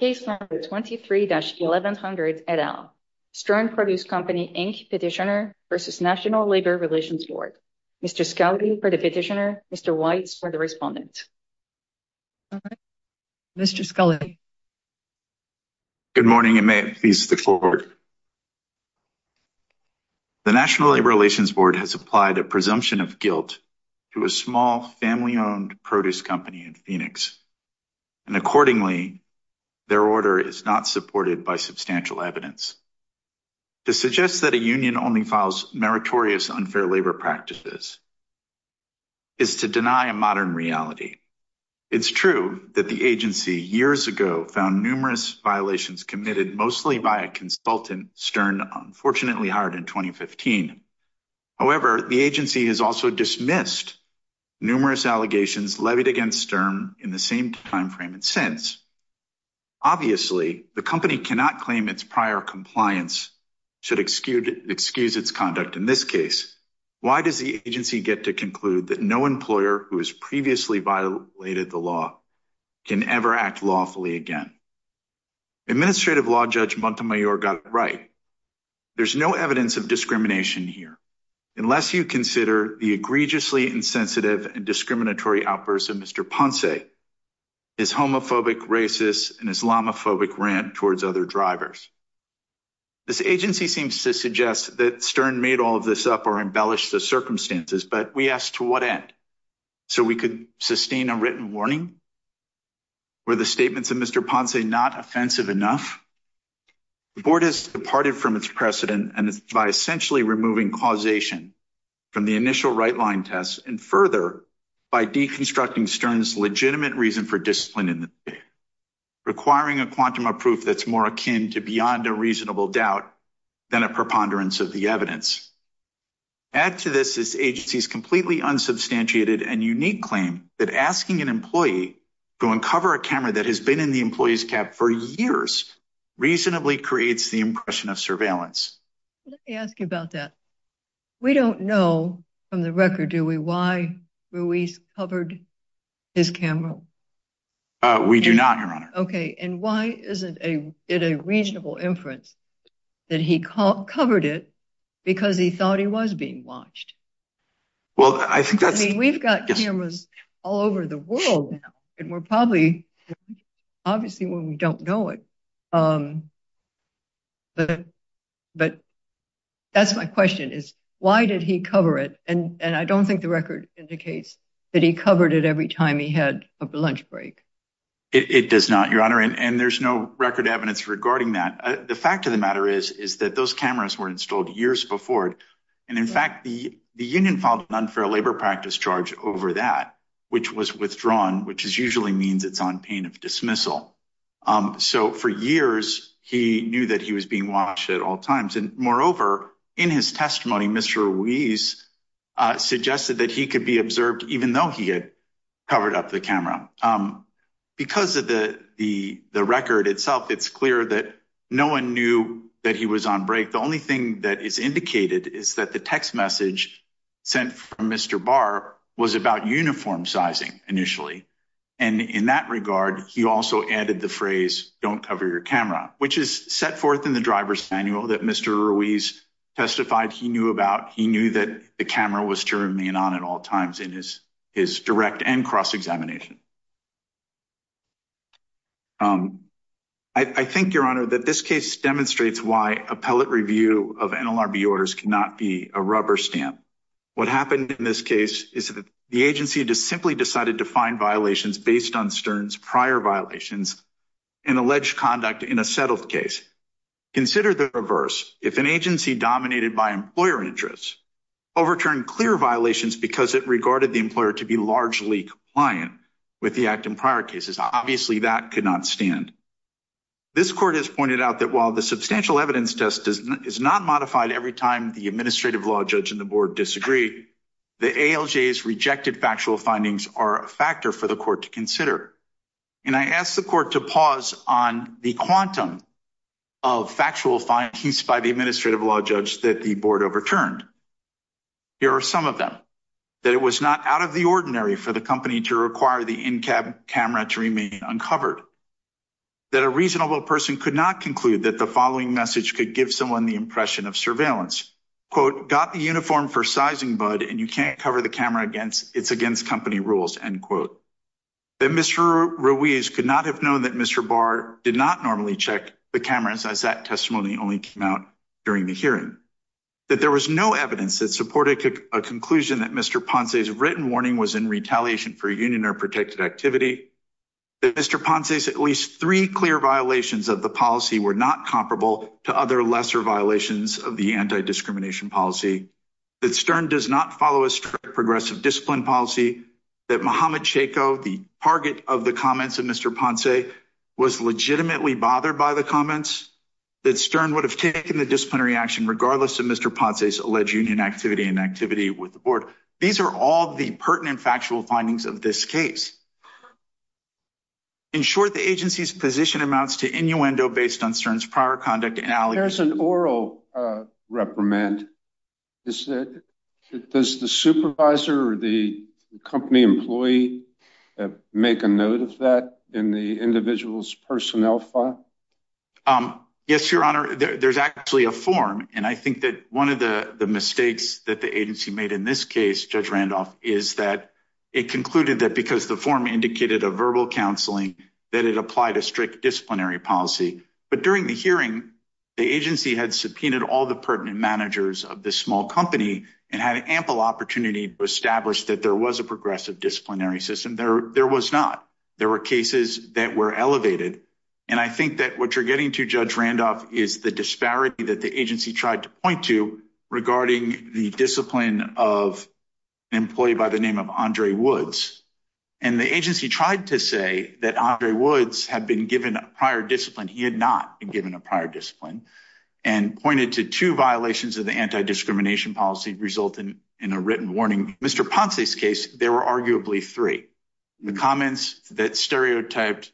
Case No. 23-1100, et al. Stern Produce Company, Inc. Petitioner v. National Labor Relations Board. Mr. Scully for the petitioner. Mr. Weitz for the respondent. Mr. Scully. Good morning and may it please the Court. The National Labor Relations Board has applied a presumption of guilt to a small family-owned produce company in Phoenix, and accordingly, their order is not supported by substantial evidence. To suggest that a union only files meritorious unfair labor practices is to deny a modern reality. It's true that the agency years ago found numerous violations committed mostly by a consultant, Stern, unfortunately hired in 2015. However, the agency has also dismissed numerous allegations levied against Stern in the same time frame and since. Obviously, the company cannot claim its prior compliance should excuse its conduct in this case. Why does the agency get to conclude that no employer who has previously violated the law can ever act lawfully again? Administrative Law Judge Montemayor got it right. There's no evidence of discrimination here unless you consider the egregiously insensitive and discriminatory outbursts of Mr. Ponce, his homophobic, racist, and Islamophobic rant towards other drivers. This agency seems to suggest that Stern made all of this up or embellished the circumstances, but we asked to what end? So we could sustain a written warning? Were the statements of Mr. Ponce not offensive enough? The board has departed from its precedent and by essentially removing causation from the initial right line tests and further by deconstructing Stern's legitimate reason for discipline in the requiring a quantum of proof that's more akin to beyond a reasonable doubt than a preponderance of the evidence. Add to this this agency's completely unsubstantiated and unique claim that asking an employee to uncover a camera that has been in the employee's cab for years reasonably creates the impression of surveillance. Let me ask you about that. We don't know from the record, do we, why Ruiz covered his camera? We do not, Your Honor. Okay, and why isn't it a reasonable inference that he covered it because he thought he was being watched? Well, I think that's. We've got cameras all over the world and we're probably obviously when we don't know it. But that's my question is, why did he cover it? And I don't think the record indicates that he covered it every time he had a lunch break. It does not, Your Honor, and there's no record evidence regarding that. The fact of the matter is, is that those cameras were installed years before. And in fact, the union filed an unfair labor practice charge over that, which was withdrawn, which is usually means it's on pain of dismissal. So, for years, he knew that he was being watched at all times. And moreover, in his testimony, Mr. Ruiz suggested that he could be observed, even though he had covered up the camera. Because of the record itself, it's clear that no one knew that he was on break. The only thing that is indicated is that the text message sent from Mr. Barr was about uniform sizing initially. And in that regard, he also added the phrase don't cover your camera, which is set forth in the driver's manual that Mr. Ruiz testified he knew about. He knew that the camera was to remain on at all times in his his direct and cross examination. I think, Your Honor, that this case demonstrates why appellate review of NLRB orders cannot be a rubber stamp. What happened in this case is that the agency simply decided to find violations based on Stern's prior violations and alleged conduct in a settled case. Consider the reverse. If an agency dominated by employer interests overturned clear violations because it regarded the employer to be largely compliant with the act in prior cases, obviously, that could not stand. This court has pointed out that while the substantial evidence test is not modified every time the administrative law judge and the board disagree, the ALJ's rejected factual findings are a factor for the court to consider. And I asked the court to pause on the quantum of factual findings by the administrative law judge that the board overturned. Here are some of them. That it was not out of the ordinary for the company to require the in-cab camera to remain uncovered. That a reasonable person could not conclude that the following message could give someone the impression of surveillance. Quote, got the uniform for sizing bud and you can't cover the camera against it's against company rules, end quote. That Mr. Ruiz could not have known that Mr. Barr did not normally check the cameras as that testimony only came out during the hearing. That there was no evidence that supported a conclusion that Mr. Ponce's written warning was in retaliation for union or protected activity. That Mr. Ponce's at least three clear violations of the policy were not comparable to other lesser violations of the anti-discrimination policy. That Stern does not follow a strict progressive discipline policy. That Mohamed Chayko, the target of the comments of Mr. Ponce, was legitimately bothered by the comments. That Stern would have taken the disciplinary action regardless of Mr. Ponce's alleged union activity and activity with the board. These are all the pertinent factual findings of this case. In short, the agency's position amounts to innuendo based on Stern's prior conduct. There's an oral reprimand. Does the supervisor or the company employee make a note of that in the individual's personnel file? Yes, Your Honor. There's actually a form. And I think that one of the mistakes that the agency made in this case, Judge Randolph, is that it concluded that because the form indicated a verbal counseling, that it applied a strict disciplinary policy. But during the hearing, the agency had subpoenaed all the pertinent managers of the small company and had ample opportunity to establish that there was a progressive disciplinary system. There was not. There were cases that were elevated. And I think that what you're getting to, Judge Randolph, is the disparity that the agency tried to point to regarding the discipline of an employee by the name of Andre Woods. And the agency tried to say that Andre Woods had been given a prior discipline. He had not been given a prior discipline and pointed to two violations of the anti-discrimination policy result in a written warning. In Mr. Ponce's case, there were arguably three. The comments that stereotyped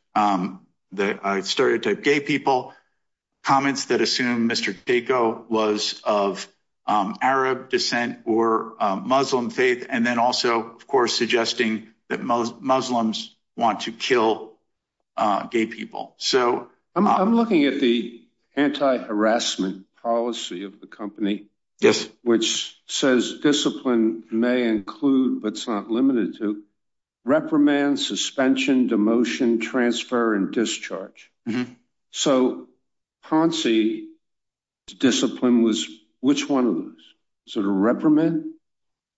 gay people, comments that assumed Mr. Daco was of Arab descent or Muslim faith, and then also, of course, suggesting that Muslims want to kill gay people. I'm looking at the anti-harassment policy of the company, which says discipline may include, but it's not limited to, reprimand, suspension, demotion, transfer, and discharge. So Ponce's discipline was which one of those? Was it a reprimand?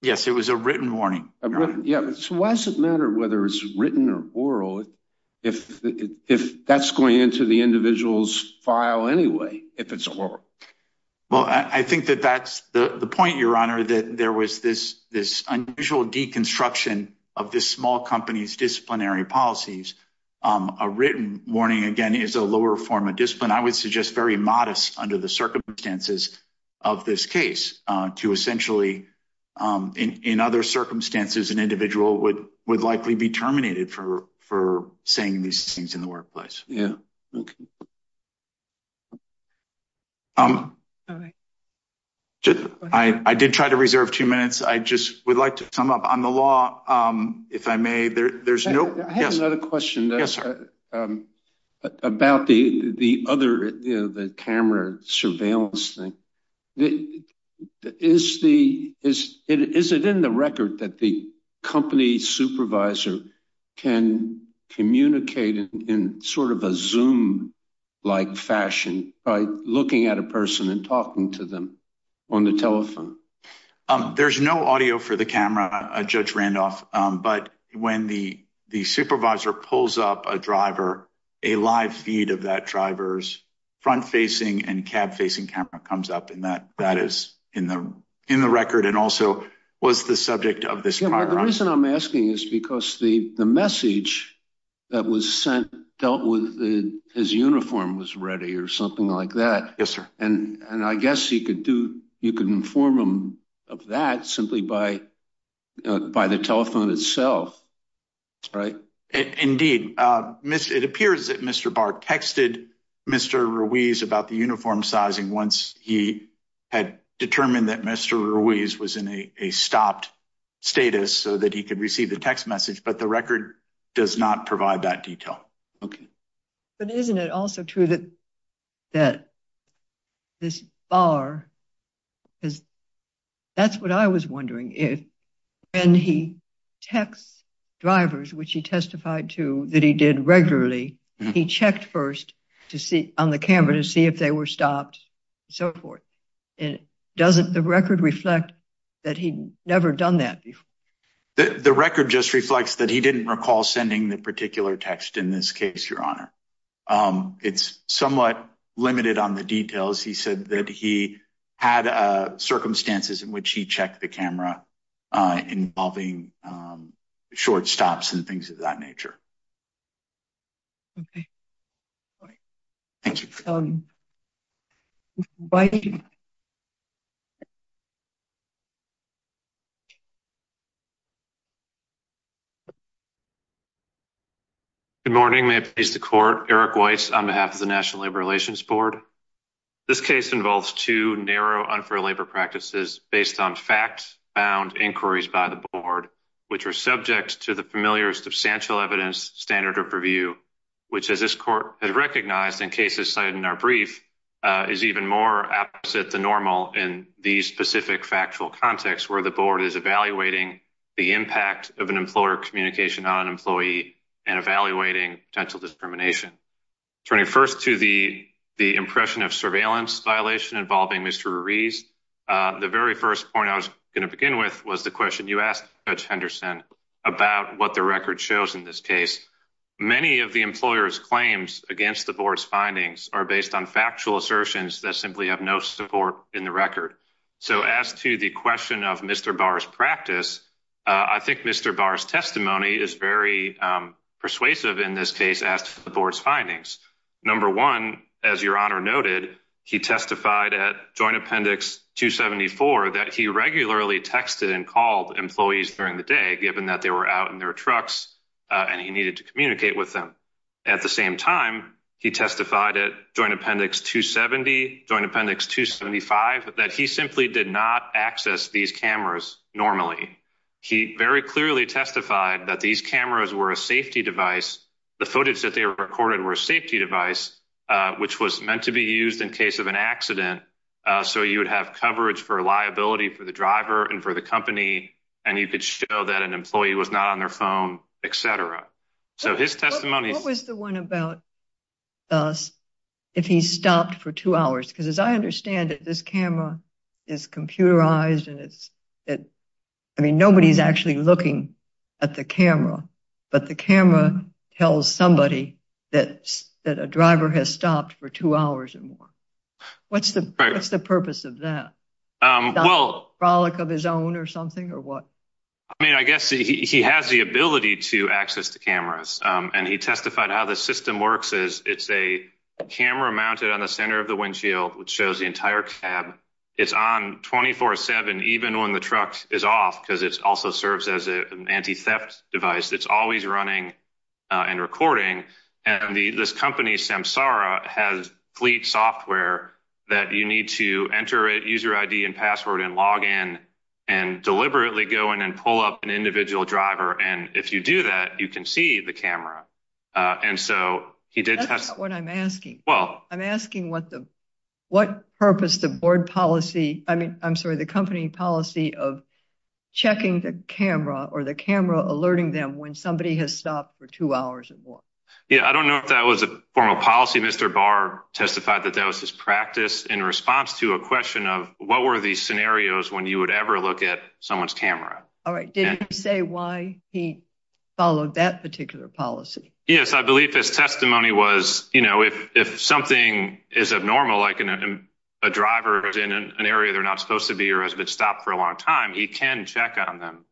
Yes, it was a written warning. So why does it matter whether it's written or oral if that's going into the individual's file anyway, if it's oral? Well, I think that that's the point, Your Honor, that there was this unusual deconstruction of this small company's disciplinary policies. A written warning, again, is a lower form of discipline. I would suggest very modest under the circumstances of this case to essentially, in other circumstances, an individual would likely be terminated for saying these things in the workplace. I did try to reserve two minutes. I just would like to sum up. On the law, if I may, there's no— I have another question about the other, the camera surveillance thing. Is it in the record that the company supervisor can communicate in sort of a Zoom-like fashion by looking at a person and talking to them on the telephone? There's no audio for the camera, Judge Randolph. But when the supervisor pulls up a driver, a live feed of that driver's front-facing and cab-facing camera comes up, and that is in the record and also was the subject of this paragraph. Yeah, but the reason I'm asking is because the message that was sent dealt with as uniform was ready or something like that. Yes, sir. And I guess you could inform them of that simply by the telephone itself, right? Indeed. It appears that Mr. Barr texted Mr. Ruiz about the uniform sizing once he had determined that Mr. Ruiz was in a stopped status so that he could receive the text message, but the record does not provide that detail. Okay. But isn't it also true that this Barr—because that's what I was wondering. When he texts drivers, which he testified to that he did regularly, he checked first on the camera to see if they were stopped and so forth. Doesn't the record reflect that he'd never done that before? The record just reflects that he didn't recall sending the particular text in this case, Your Honor. It's somewhat limited on the details. He said that he had circumstances in which he checked the camera involving short stops and things of that nature. Okay. Thank you. Mr. White? Good morning. May it please the Court? Eric White on behalf of the National Labor Relations Board. This case involves two narrow unfair labor practices based on fact-bound inquiries by the Board, which are subject to the familiar substantial evidence standard of review, which, as this Court has recognized in cases cited in our brief, is even more opposite than normal in these specific factual contexts where the Board is evaluating the impact of an employer communication on an employee and evaluating potential discrimination. Turning first to the impression of surveillance violation involving Mr. Ruiz, the very first point I was going to begin with was the question you asked, Judge Henderson, about what the record shows in this case. Many of the employer's claims against the Board's findings are based on factual assertions that simply have no support in the record. As to the question of Mr. Barr's practice, I think Mr. Barr's testimony is very persuasive in this case as to the Board's findings. Number one, as Your Honor noted, he testified at Joint Appendix 274 that he regularly texted and called employees during the day, given that they were out in their trucks and he needed to communicate with them. At the same time, he testified at Joint Appendix 270, Joint Appendix 275, that he simply did not access these cameras normally. He very clearly testified that these cameras were a safety device. The footage that they recorded were a safety device, which was meant to be used in case of an accident, so you would have coverage for liability for the driver and for the company, and you could show that an employee was not on their phone, etc. What was the one about if he stopped for two hours? Because as I understand it, this camera is computerized. I mean, nobody's actually looking at the camera, but the camera tells somebody that a driver has stopped for two hours or more. What's the purpose of that? Is that a frolic of his own or something, or what? I mean, I guess he has the ability to access the cameras, and he testified how the system works. It's a camera mounted on the center of the windshield, which shows the entire cab. It's on 24-7, even when the truck is off, because it also serves as an anti-theft device. It's always running and recording, and this company, Samsara, has fleet software that you need to enter a user ID and password and log in and deliberately go in and pull up an individual driver, and if you do that, you can see the camera. That's not what I'm asking. I'm asking what purpose the company policy of checking the camera or the camera alerting them when somebody has stopped for two hours or more. Yeah, I don't know if that was a formal policy. Mr. Barr testified that that was his practice in response to a question of what were these scenarios when you would ever look at someone's camera. All right. Did he say why he followed that particular policy? Yes, I believe his testimony was if something is abnormal, like a driver is in an area they're not supposed to be or has been stopped for a long time, he can check on them.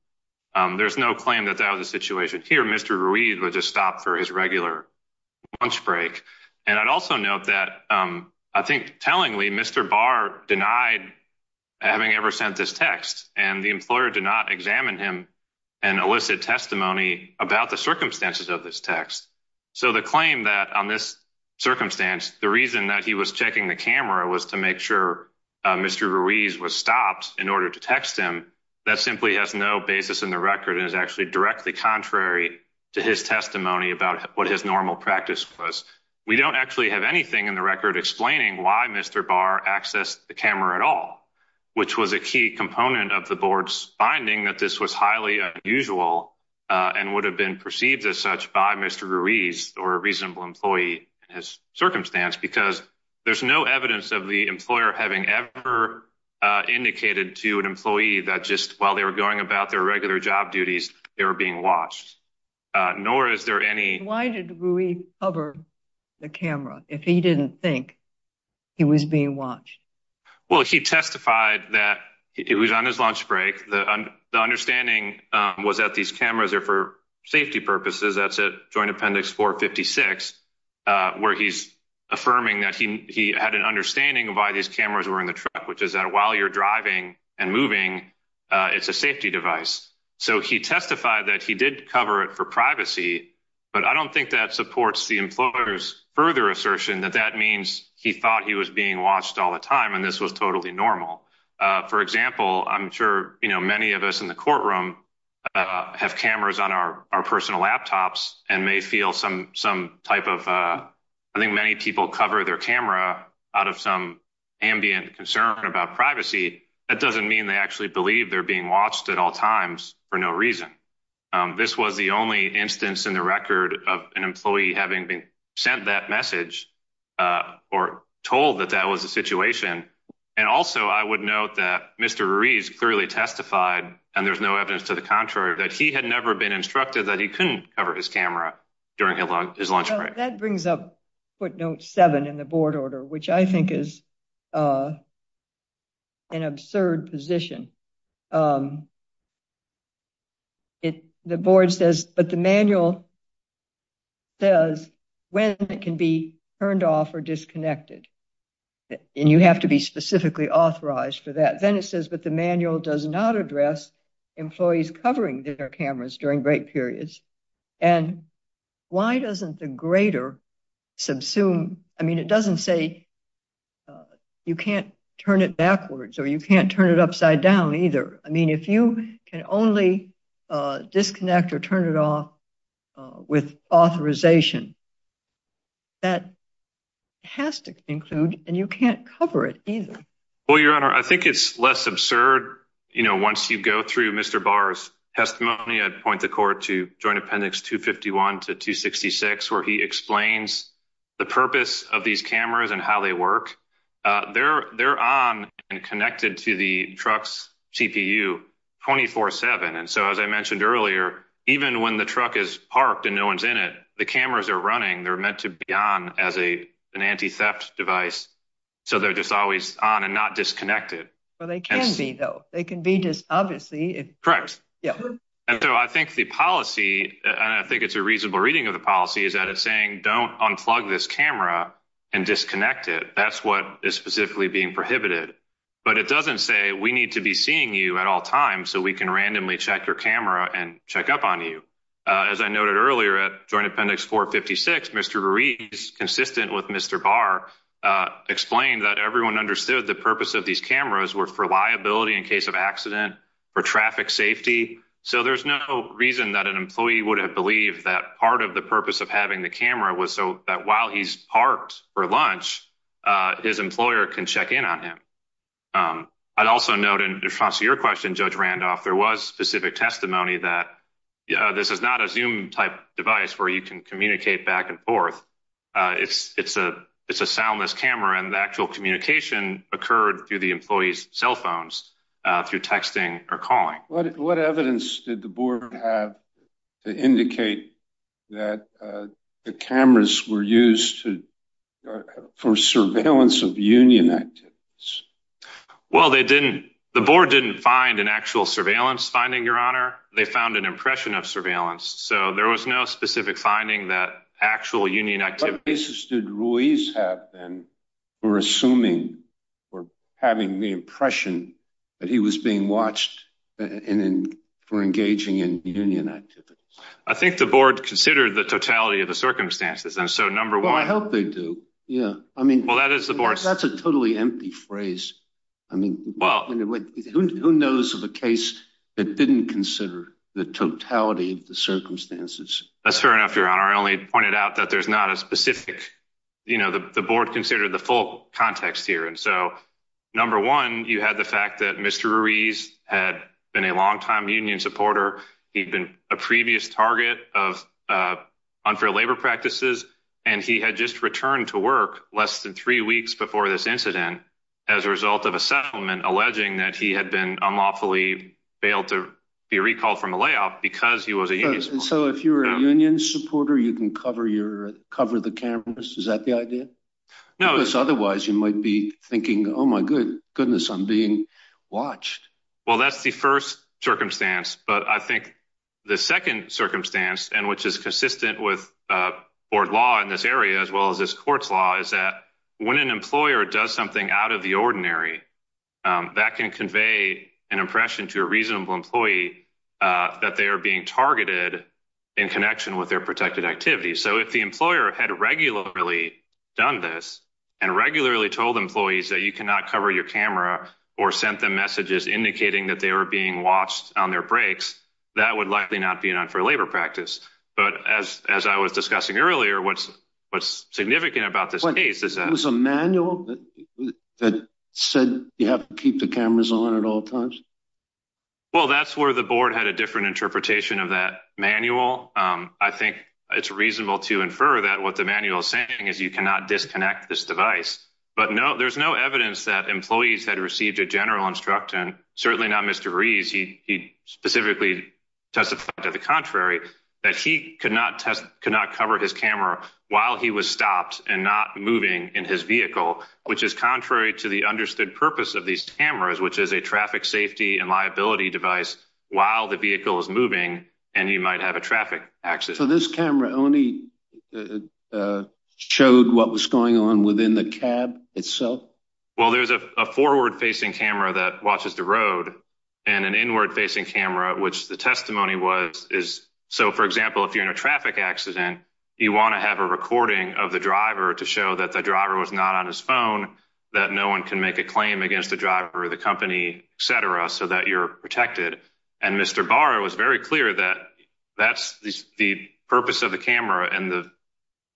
There's no claim that that was the situation here. Mr. Ruiz was just stopped for his regular lunch break, and I'd also note that I think tellingly, Mr. Barr denied having ever sent this text, and the employer did not examine him and elicit testimony about the circumstances of this text. So, the claim that on this circumstance, the reason that he was checking the camera was to make sure Mr. Ruiz was stopped in order to text him, that simply has no basis in the record and is actually directly contrary to his testimony about what his normal practice was. We don't actually have anything in the record explaining why Mr. Barr accessed the camera at all, which was a key component of the board's finding that this was highly unusual and would have been perceived as such by Mr. Ruiz or a reasonable employee in his circumstance, because there's no evidence of the employer having ever indicated to an employee that just while they were going about their regular job duties, they were being watched. Nor is there any... Why did Ruiz cover the camera if he didn't think he was being watched? Well, he testified that it was on his lunch break. The understanding was that these cameras are for safety purposes. That's at Joint Appendix 456, where he's affirming that he had an understanding of why these cameras were in the truck, which is that while you're driving and moving, it's a safety device. So he testified that he did cover it for privacy, but I don't think that supports the employer's further assertion that that means he thought he was being watched all the time and this was totally normal. For example, I'm sure many of us in the courtroom have cameras on our personal laptops and may feel some type of... I think many people cover their camera out of some ambient concern about privacy. That doesn't mean they actually believe they're being watched at all times for no reason. This was the only instance in the record of an employee having been sent that message or told that that was the situation. And also, I would note that Mr. Ruiz clearly testified, and there's no evidence to the contrary, that he had never been instructed that he couldn't cover his camera during his lunch break. That brings up footnote seven in the board order, which I think is an absurd position. The board says, but the manual says when it can be turned off or disconnected. And you have to be specifically authorized for that. Then it says, but the manual does not address employees covering their cameras during break periods. And why doesn't the greater subsume? I mean, it doesn't say you can't turn it backwards or you can't turn it upside down either. I mean, if you can only disconnect or turn it off with authorization, that has to include and you can't cover it either. Well, Your Honor, I think it's less absurd. Once you go through Mr. Barr's testimony, I'd point the court to Joint Appendix 251 to 266, where he explains the purpose of these cameras and how they work. They're on and connected to the truck's CPU 24-7. And so, as I mentioned earlier, even when the truck is parked and no one's in it, the cameras are running. They're meant to be on as an anti-theft device. So they're just always on and not disconnected. Well, they can be, though. They can be just obviously. Correct. Yeah. And so I think the policy, and I think it's a reasonable reading of the policy, is that it's saying don't unplug this camera and disconnect it. That's what is specifically being prohibited. But it doesn't say we need to be seeing you at all times so we can randomly check your camera and check up on you. As I noted earlier, at Joint Appendix 456, Mr. Ruiz, consistent with Mr. Barr, explained that everyone understood the purpose of these cameras were for liability in case of accident, for traffic safety. So there's no reason that an employee would have believed that part of the purpose of having the camera was so that while he's parked for lunch, his employer can check in on him. I'd also note in response to your question, Judge Randolph, there was specific testimony that this is not a Zoom-type device where you can communicate back and forth. It's a soundless camera, and the actual communication occurred through the employee's cell phones through texting or calling. What evidence did the board have to indicate that the cameras were used for surveillance of union activities? Well, they didn't – the board didn't find an actual surveillance finding, Your Honor. They found an impression of surveillance. So there was no specific finding that actual union activity – or assuming or having the impression that he was being watched for engaging in union activities. I think the board considered the totality of the circumstances. And so, number one – Well, I hope they do. Yeah. I mean – Well, that is the board – That's a totally empty phrase. I mean, who knows of a case that didn't consider the totality of the circumstances? That's fair enough, Your Honor. I only pointed out that there's not a specific – you know, the board considered the full context here. And so, number one, you had the fact that Mr. Ruiz had been a longtime union supporter. He'd been a previous target of unfair labor practices, and he had just returned to work less than three weeks before this incident as a result of a settlement alleging that he had been unlawfully bailed to be recalled from a layoff because he was a union supporter. So, if you're a union supporter, you can cover the cameras? Is that the idea? No. Because otherwise, you might be thinking, oh, my goodness, I'm being watched. Well, that's the first circumstance. But I think the second circumstance, and which is consistent with board law in this area as well as this court's law, is that when an employer does something out of the ordinary, that can convey an impression to a reasonable employee that they are being targeted in connection with their protected activities. So, if the employer had regularly done this and regularly told employees that you cannot cover your camera or sent them messages indicating that they were being watched on their breaks, that would likely not be an unfair labor practice. But as I was discussing earlier, what's significant about this case is that – It was a manual that said you have to keep the cameras on at all times? Well, that's where the board had a different interpretation of that manual. I think it's reasonable to infer that what the manual is saying is you cannot disconnect this device. But there's no evidence that employees had received a general instruction, certainly not Mr. Rees. He specifically testified to the contrary, that he could not cover his camera while he was stopped and not moving in his vehicle, which is contrary to the understood purpose of these cameras, which is a traffic safety and liability device while the vehicle is moving and you might have a traffic access. So, this camera only showed what was going on within the cab itself? Well, there's a forward-facing camera that watches the road and an inward-facing camera, which the testimony was – So, for example, if you're in a traffic accident, you want to have a recording of the driver to show that the driver was not on his phone, that no one can make a claim against the driver or the company, et cetera, so that you're protected. And Mr. Barr was very clear that that's the purpose of the camera and the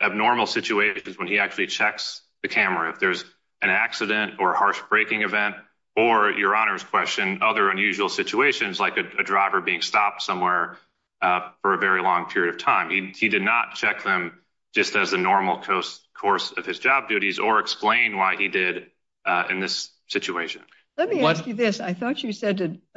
abnormal situations when he actually checks the camera. If there's an accident or a harsh braking event or, Your Honor's question, other unusual situations like a driver being stopped somewhere for a very long period of time, he did not check them just as a normal course of his job duties or explain why he did in this situation. Let me ask you this. I thought you said –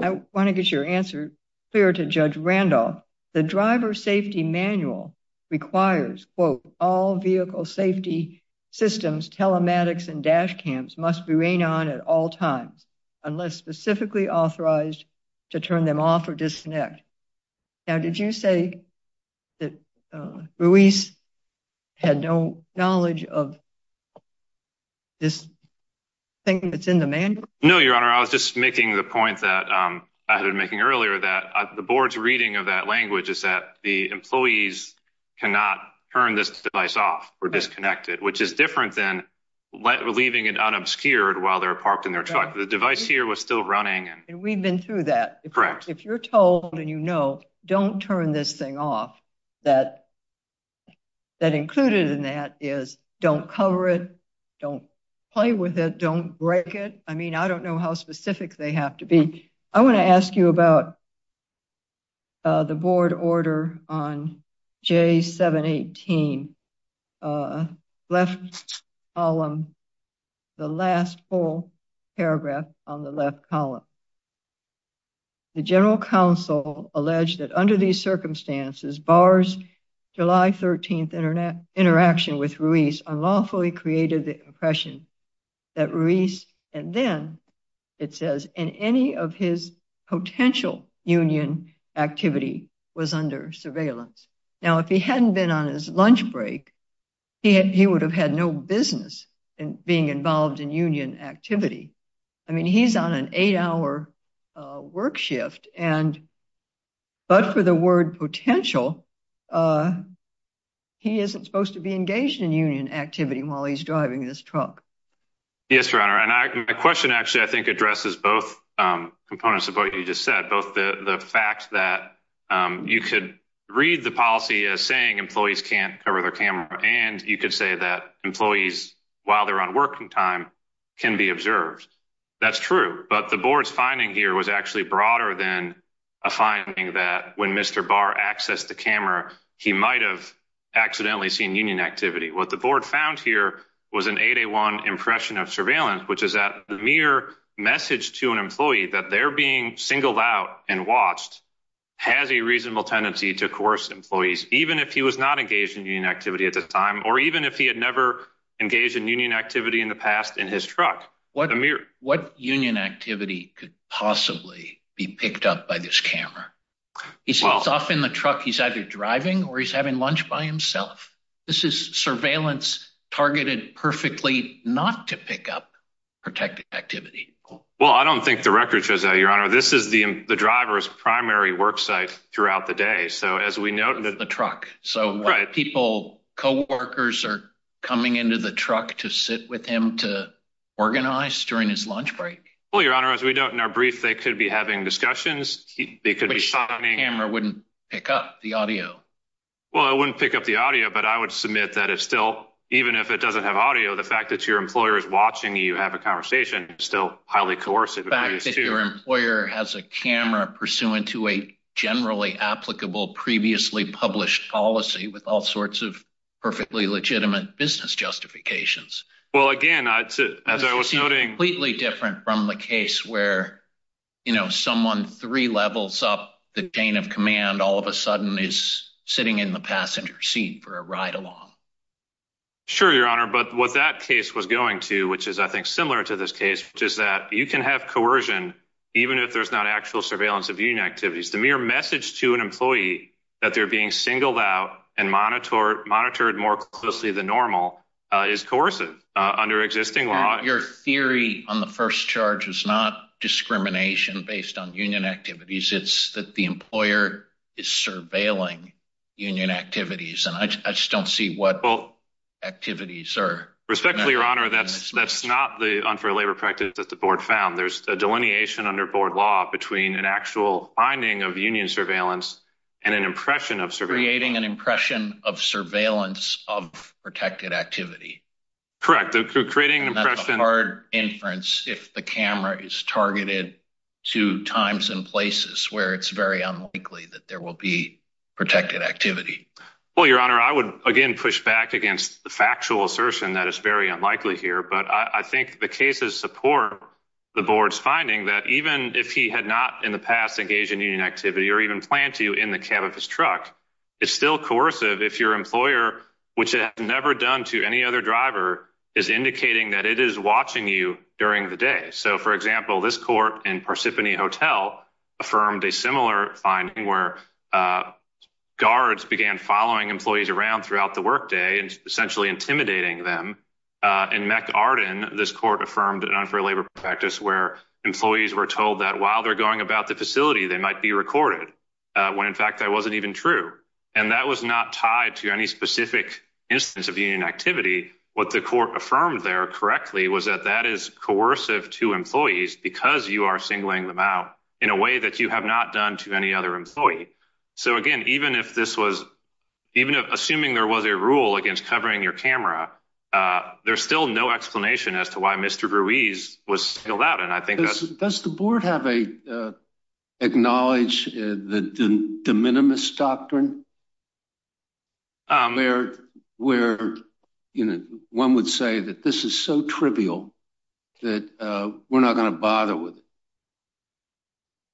I want to get your answer clear to Judge Randolph. The driver safety manual requires, quote, all vehicle safety systems, telematics and dash cams must be rain on at all times unless specifically authorized to turn them off or disconnect. Now, did you say that Ruiz had no knowledge of this thing that's in the manual? No, Your Honor. I was just making the point that I had been making earlier that the board's reading of that language is that the employees cannot turn this device off or disconnect it, which is different than leaving it unobscured while they're parked in their truck. The device here was still running. And we've been through that. Correct. If you're told and you know, don't turn this thing off, that included in that is don't cover it. Don't play with it. Don't break it. I mean, I don't know how specific they have to be. I want to ask you about the board order on J718, left column, the last full paragraph on the left column. The general counsel alleged that under these circumstances bars July 13th Internet interaction with Ruiz unlawfully created the impression that Ruiz and then it says in any of his potential union activity was under surveillance. Now, if he hadn't been on his lunch break, he would have had no business being involved in union activity. I mean, he's on an eight hour work shift and. But for the word potential. He isn't supposed to be engaged in union activity while he's driving this truck. Yes, your honor. And my question actually, I think, addresses both components of what you just said. Both the fact that you could read the policy as saying employees can't cover their camera. And you could say that employees, while they're on working time, can be observed. That's true. But the board's finding here was actually broader than a finding that when Mr. Bar access the camera, he might have accidentally seen union activity. What the board found here was an 801 impression of surveillance, which is that the mere message to an employee that they're being singled out and watched has a reasonable tendency to coerce employees, even if he was not engaged in union activity at the time, or even if he had never engaged in union activity in the past in his truck. What a mere what union activity could possibly be picked up by this camera? He's off in the truck. He's either driving or he's having lunch by himself. This is surveillance targeted perfectly not to pick up protected activity. Well, I don't think the record shows that, your honor. This is the driver's primary work site throughout the day. So, as we know, the truck, so people, coworkers are coming into the truck to sit with him to organize during his lunch break. Well, your honor, as we know, in our brief, they could be having discussions. Camera wouldn't pick up the audio. Well, I wouldn't pick up the audio, but I would submit that if still, even if it doesn't have audio, the fact that your employer is watching, you have a conversation still highly coercive. Your employer has a camera pursuant to a generally applicable previously published policy with all sorts of perfectly legitimate business justifications. Well, again, as I was noting, completely different from the case where, you know, someone three levels up the chain of command all of a sudden is sitting in the passenger seat for a ride along. Sure, your honor, but what that case was going to, which is, I think, similar to this case, which is that you can have coercion, even if there's not actual surveillance of union activities. The mere message to an employee that they're being singled out and monitored, monitored more closely than normal is coercive under existing law. Your theory on the first charge is not discrimination based on union activities. It's that the employer is surveilling union activities, and I just don't see what activities are. Respectfully, your honor, that's that's not the unfair labor practice that the board found. There's a delineation under board law between an actual finding of union surveillance and an impression of creating an impression of surveillance of protected activity. Correct. Creating hard inference if the camera is targeted to times and places where it's very unlikely that there will be protected activity. Well, your honor, I would again push back against the factual assertion that is very unlikely here. But I think the cases support the board's finding that even if he had not in the past engaged in union activity, or even plan to in the cab of his truck, it's still coercive. If your employer, which has never done to any other driver is indicating that it is watching you during the day. So, for example, this court in Parsippany Hotel affirmed a similar finding where guards began following employees around throughout the workday and essentially intimidating them. And Mac Arden, this court affirmed an unfair labor practice where employees were told that while they're going about the facility, they might be recorded when, in fact, I wasn't even true. And that was not tied to any specific instance of union activity. What the court affirmed there correctly was that that is coercive to employees because you are singling them out in a way that you have not done to any other employee. So, again, even if this was even assuming there was a rule against covering your camera, there's still no explanation as to why Mr. Ruiz was out. And I think that's the board have a acknowledge the de minimis doctrine. Where where one would say that this is so trivial that we're not going to bother with.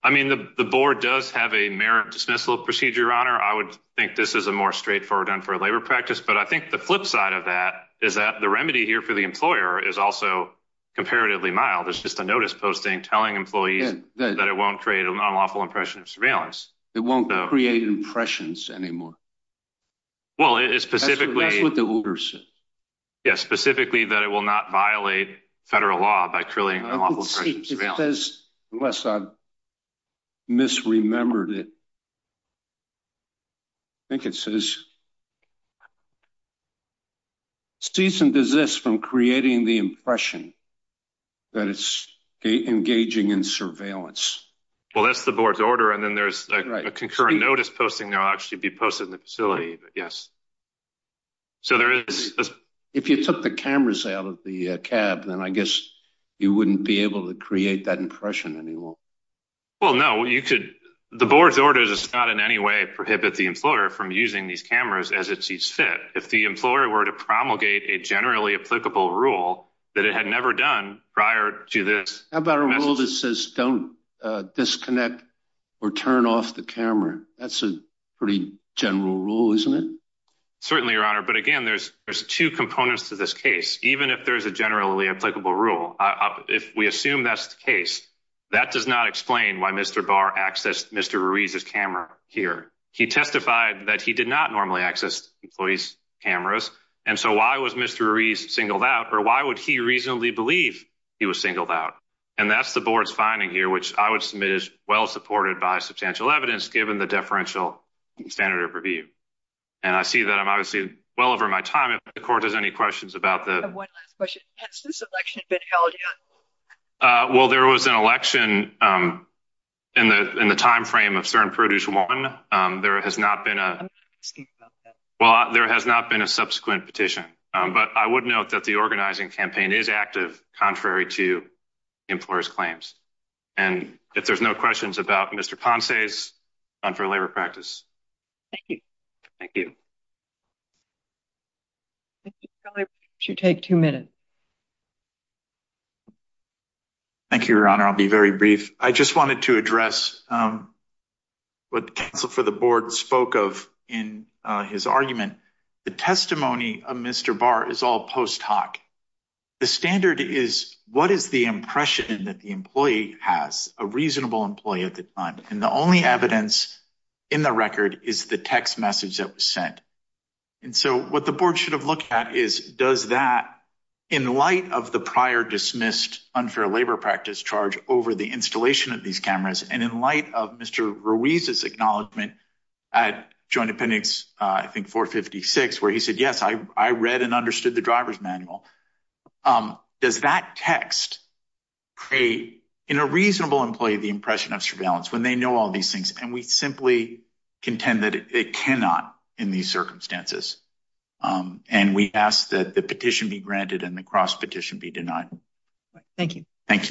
I mean, the board does have a merit dismissal procedure. Honor. I would think this is a more straightforward done for a labor practice. But I think the flip side of that is that the remedy here for the employer is also comparatively mild. It's just a notice posting, telling employees that it won't create an unlawful impression of surveillance. It won't create impressions anymore. Well, it is specifically what the order said. Yes, specifically that it will not violate federal law by trilling. Unless I misremembered it. I think it says. Season does this from creating the impression that it's engaging in surveillance? Well, that's the board's order. And then there's a concurrent notice posting. They'll actually be posted in the facility. Yes. So there is if you took the cameras out of the cab, then I guess you wouldn't be able to create that impression anymore. Well, no, you could. The board's orders is not in any way prohibit the employer from using these cameras as it sees fit. If the employer were to promulgate a generally applicable rule that it had never done prior to this. How about a rule that says don't disconnect or turn off the camera? That's a pretty general rule, isn't it? Certainly, your honor. But again, there's there's two components to this case, even if there is a generally applicable rule. If we assume that's the case, that does not explain why Mr. Barr accessed Mr. Ruiz's camera here. He testified that he did not normally access employees cameras. And so why was Mr. Ruiz singled out or why would he reasonably believe he was singled out? And that's the board's finding here, which I would submit is well supported by substantial evidence, given the deferential standard of review. And I see that I'm obviously well over my time. If the court has any questions about the one last question, has this election been held? Well, there was an election in the in the time frame of certain produce one. There has not been a well, there has not been a subsequent petition. But I would note that the organizing campaign is active, contrary to employers claims. And if there's no questions about Mr. Ponce's on for labor practice. Thank you. Thank you. You take two minutes. Thank you, your honor. I'll be very brief. I just wanted to address what the council for the board spoke of in his argument. The testimony of Mr. Barr is all post hoc. The standard is what is the impression that the employee has a reasonable employee at the time? And the only evidence in the record is the text message that was sent. And so what the board should have looked at is, does that in light of the prior dismissed unfair labor practice charge over the installation of these cameras? And in light of Mr. Ruiz's acknowledgment at joint appendix, I think, four fifty six, where he said, yes, I, I read and understood the driver's manual. Does that text create in a reasonable employee the impression of surveillance when they know all these things? And we simply contend that it cannot in these circumstances. And we ask that the petition be granted and the cross petition be denied. Thank you. Thank you.